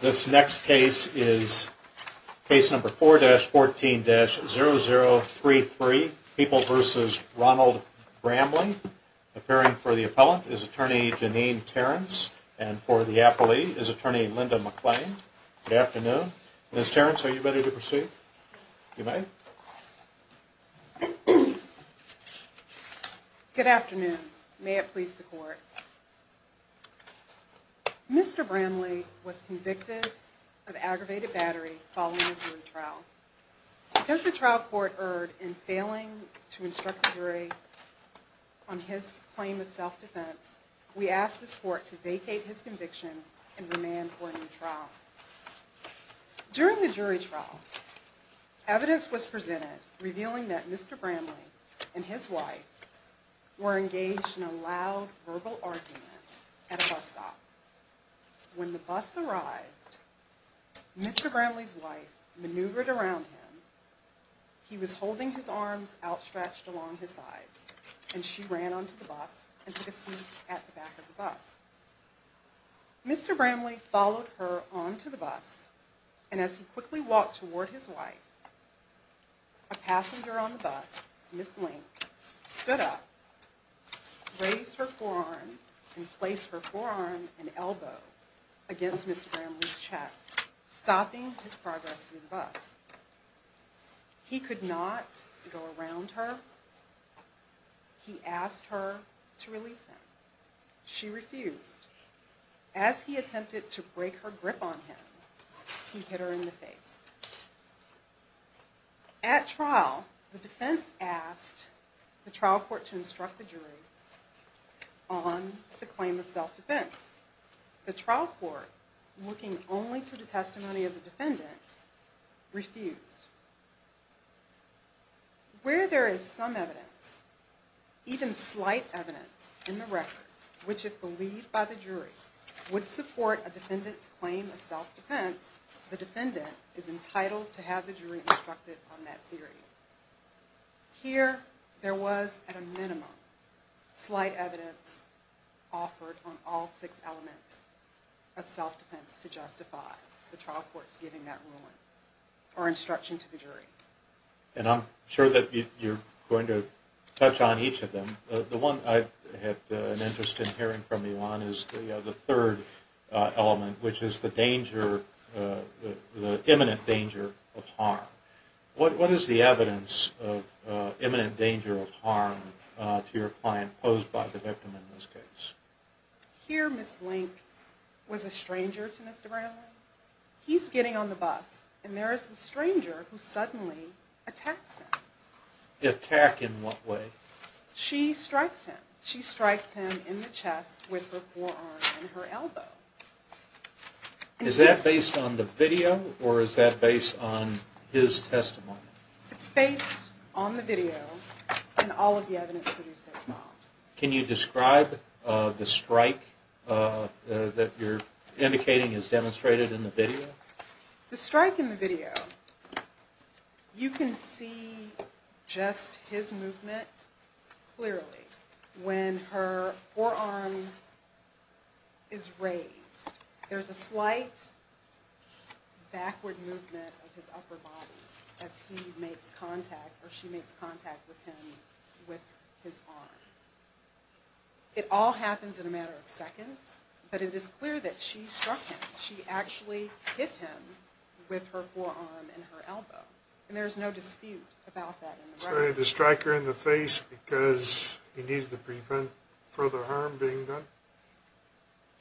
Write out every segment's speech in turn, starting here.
This next case is case number 4-14-0033. People v. Ronald Bramley. Appearing for the appellant is Attorney Janine Terrence. And for the appellee is Attorney Linda McClain. Good afternoon. Ms. Terrence, are you ready to proceed? Good afternoon. May it please the court. Mr. Bramley was convicted of aggravated battery following a jury trial. Because the trial court erred in failing to instruct the jury on his claim of self-defense, we ask this court to vacate his conviction and remand for a new trial. During the jury trial, evidence was presented revealing that Mr. Bramley and his wife were engaged in a loud verbal argument at a bus stop. When the bus arrived, Mr. Bramley's wife maneuvered around him, he was holding his arms outstretched along his sides, and she ran onto the bus and took a seat at the back of the bus. Mr. Bramley followed her onto the bus, and as he quickly walked toward his wife, a passenger on the bus, Ms. Link, stood up, raised her forearm, and placed her forearm and elbow against Mr. Bramley's chest, stopping his progress through the bus. He could not go around her. He asked her to release him. She refused. As he attempted to break her grip on him, he hit her in the face. At trial, the defense asked the trial court to instruct the jury on the claim of self-defense. The trial court, looking only to the testimony of the defendant, refused. Where there is some evidence, even slight evidence, in the record which, if believed by the jury, would support a defendant's claim of self-defense, the defendant is entitled to have the jury instructed on that theory. Here, there was, at a minimum, slight evidence offered on all six elements of self-defense to justify the trial court's giving that ruling or instruction to the jury. And I'm sure that you're going to touch on each of them. The one I had an interest in hearing from you on is the third element, which is the danger, the imminent danger of harm. What is the evidence of imminent danger of harm to your client posed by the victim in this case? Here, Ms. Link was a stranger to Mr. Brownlee. He's getting on the bus, and there is a stranger who suddenly attacks him. Attack in what way? She strikes him. She strikes him in the chest with her forearm and her elbow. Is that based on the video, or is that based on his testimony? It's based on the video and all of the evidence produced so far. Can you describe the strike that you're indicating is demonstrated in the video? The strike in the video, you can see just his movement clearly when her forearm is raised. There's a slight backward movement of his upper body as he makes contact, or she makes contact with him with his arm. It all happens in a matter of seconds, but it is clear that she struck him. She actually hit him with her forearm and her elbow. And there's no dispute about that in the record. So he had the striker in the face because he needed to prevent further harm being done?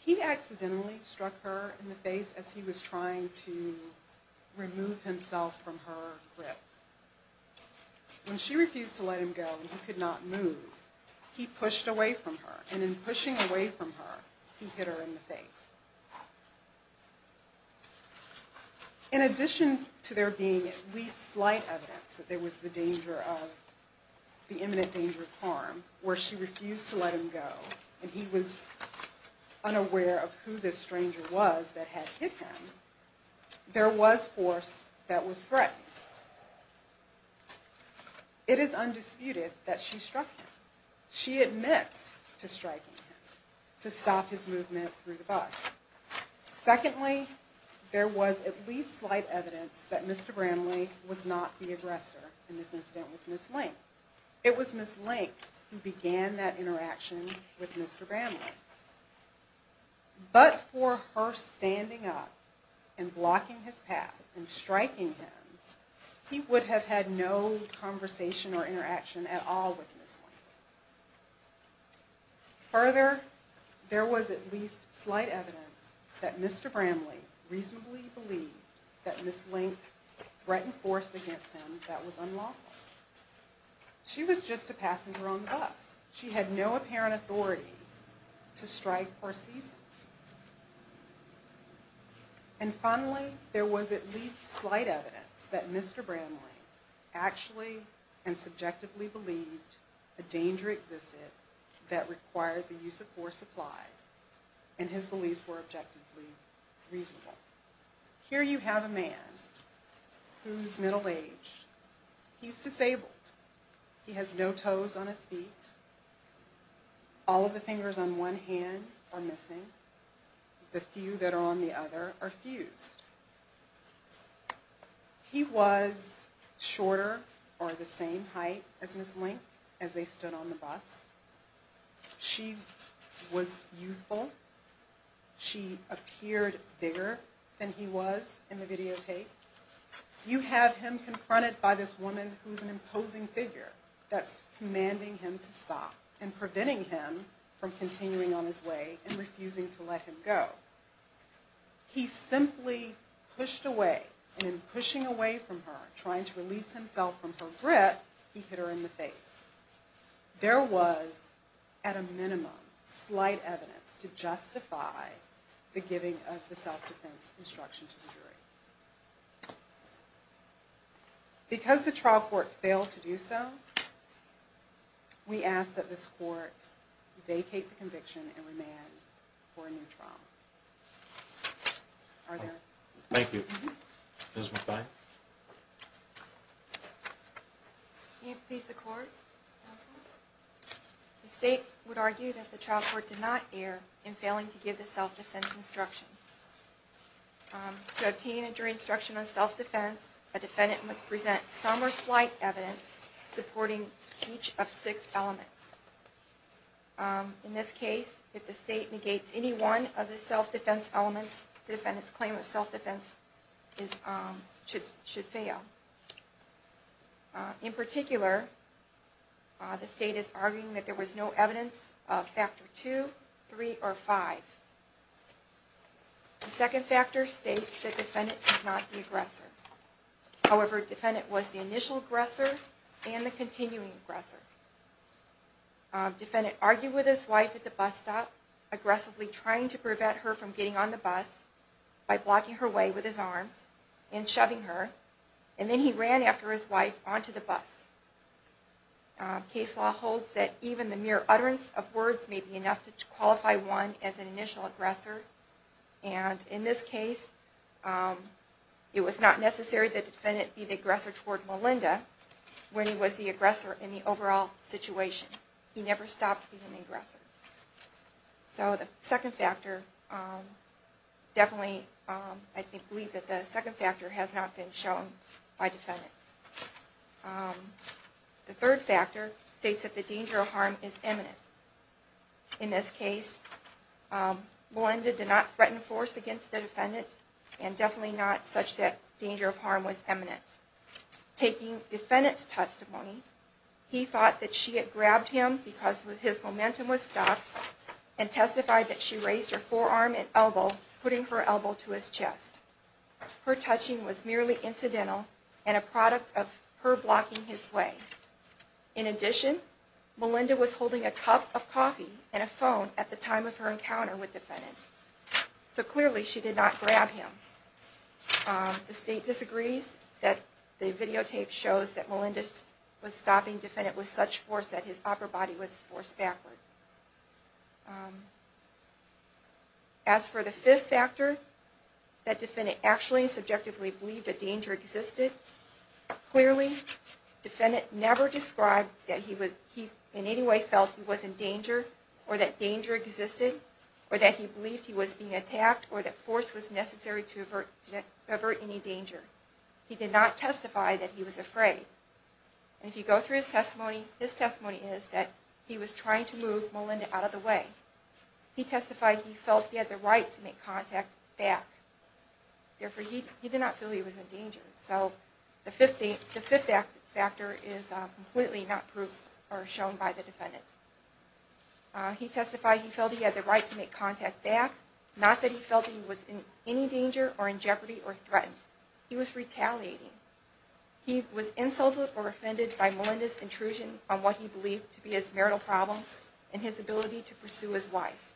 He accidentally struck her in the face as he was trying to remove himself from her grip. When she refused to let him go and he could not move, he pushed away from her. And in pushing away from her, he hit her in the face. In addition to there being at least slight evidence that there was the imminent danger of harm, where she refused to let him go and he was unaware of who this stranger was that had hit him, there was force that was threatened. It is undisputed that she struck him. She admits to striking him to stop his movement through the bus. Secondly, there was at least slight evidence that Mr. Bramley was not the aggressor in this incident with Ms. Link. It was Ms. Link who began that interaction with Mr. Bramley. But for her standing up and blocking his path and striking him, he would have had no conversation or interaction at all with Ms. Link. Further, there was at least slight evidence that Mr. Bramley reasonably believed that Ms. Link threatened force against him that was unlawful. She was just a passenger on the bus. She had no apparent authority to strike or seize him. And finally, there was at least slight evidence that Mr. Bramley actually and subjectively believed a danger existed that required the use of force applied, and his beliefs were objectively reasonable. Here you have a man who's middle-aged. He's disabled. He has no toes on his feet. All of the fingers on one hand are missing. The few that are on the other are fused. He was shorter or the same height as Ms. Link as they stood on the bus. She was youthful. She appeared bigger than he was in the videotape. You have him confronted by this woman who's an imposing figure that's commanding him to stop and preventing him from continuing on his way and refusing to let him go. He simply pushed away, and in pushing away from her, trying to release himself from her grip, he hit her in the face. There was, at a minimum, slight evidence to justify the giving of the self-defense instruction to the jury. Because the trial court failed to do so, we ask that this court vacate the conviction and remand for a new trial. Are there? Thank you. Ms. McVine? May it please the court? The state would argue that the trial court did not err in failing to give the self-defense instruction. To obtain a jury instruction on self-defense, a defendant must present some or slight evidence supporting each of six elements. In this case, if the state negates any one of the self-defense elements, the defendant's claim of self-defense should fail. In particular, the state is arguing that there was no evidence of Factor 2, 3, or 5. The second factor states that the defendant was not the aggressor. However, the defendant was the initial aggressor and the continuing aggressor. The defendant argued with his wife at the bus stop, aggressively trying to prevent her from getting on the bus by blocking her way with his arms and shoving her. And then he ran after his wife onto the bus. Case law holds that even the mere utterance of words may be enough to qualify one as an initial aggressor. And in this case, it was not necessary that the defendant be the aggressor toward Melinda when he was the aggressor in the overall situation. He never stopped being an aggressor. So the second factor, definitely, I believe that the second factor has not been shown by the defendant. The third factor states that the danger of harm is imminent. In this case, Melinda did not threaten force against the defendant and definitely not such that danger of harm was imminent. Taking the defendant's testimony, he thought that she had grabbed him because his momentum was stopped and testified that she raised her forearm and elbow, putting her elbow to his chest. Her touching was merely incidental and a product of her blocking his way. In addition, Melinda was holding a cup of coffee and a phone at the time of her encounter with the defendant. So clearly, she did not grab him. The state disagrees that the videotape shows that Melinda was stopping the defendant with such force that his upper body was forced backward. As for the fifth factor, that defendant actually and subjectively believed that danger existed. Clearly, the defendant never described that he in any way felt he was in danger or that danger existed or that he believed he was being attacked or that force was necessary to avert any danger. He did not testify that he was afraid. If you go through his testimony, his testimony is that he was trying to move Melinda out of the way. He testified he felt he had the right to make contact back. Therefore, he did not feel he was in danger. So the fifth factor is completely not proved or shown by the defendant. He testified he felt he had the right to make contact back, not that he felt he was in any danger or in jeopardy or threatened. He was retaliating. He was insulted or offended by Melinda's intrusion on what he believed to be his marital problem and his ability to pursue his wife.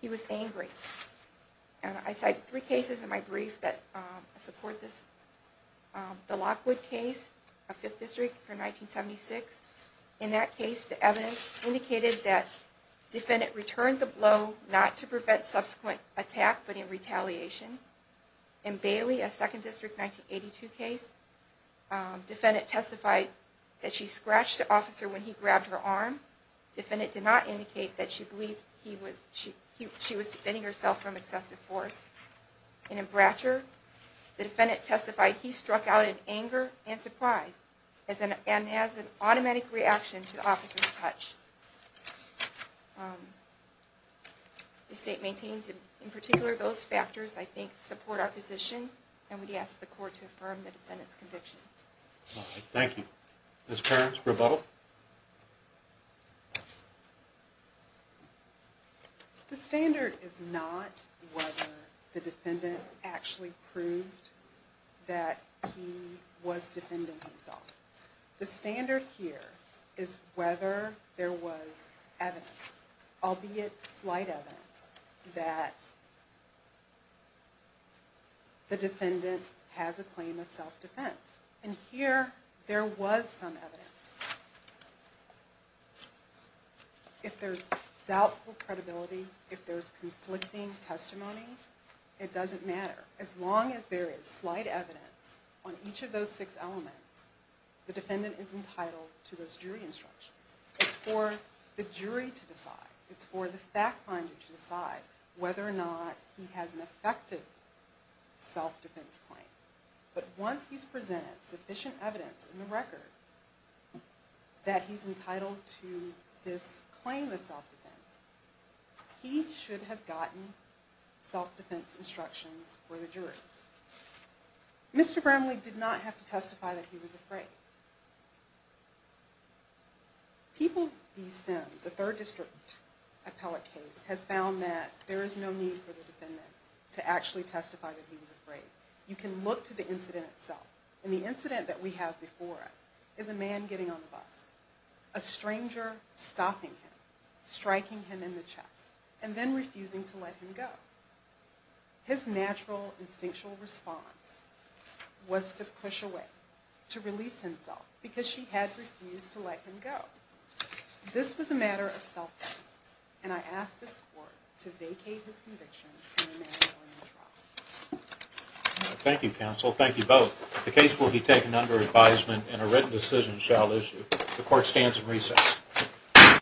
He was angry. And I cite three cases in my brief that support this. The Lockwood case of Fifth District from 1976. In that case, the evidence indicated that the defendant returned the blow not to prevent subsequent attack but in retaliation. In Bailey, a Second District 1982 case, the defendant testified that she scratched the officer when he grabbed her arm. The defendant did not indicate that she believed she was defending herself from excessive force. In Bratcher, the defendant testified he struck out in anger and surprise and has an automatic reaction to the officer's touch. The state maintains in particular those factors I think support our position and we ask the court to affirm the defendant's conviction. Thank you. Ms. Perkins, rebuttal. The standard is not whether the defendant actually proved that he was defending himself. The standard here is whether there was evidence, albeit slight evidence, that the defendant has a claim of self-defense. And here, there was some evidence. If there's doubtful credibility, if there's conflicting testimony, it doesn't matter. As long as there is slight evidence on each of those six elements, the defendant is entitled to those jury instructions. It's for the jury to decide. It's for the fact finder to decide whether or not he has an effective self-defense claim. But once he's presented sufficient evidence in the record that he's entitled to this claim of self-defense, he should have gotten self-defense instructions for the jury. Mr. Bramley did not have to testify that he was afraid. People v. Sims, a third district appellate case, has found that there is no need for the defendant to actually testify that he was afraid. You can look to the incident itself, and the incident that we have before us is a man getting on the bus. A stranger stopping him, striking him in the chest, and then refusing to let him go. His natural, instinctual response was to push away, to release himself, because she had refused to let him go. This was a matter of self-defense, and I ask this Court to vacate his conviction and remand him in the trial. Thank you, counsel. Thank you both. The case will be taken under advisement, and a written decision shall issue. The Court stands in recess.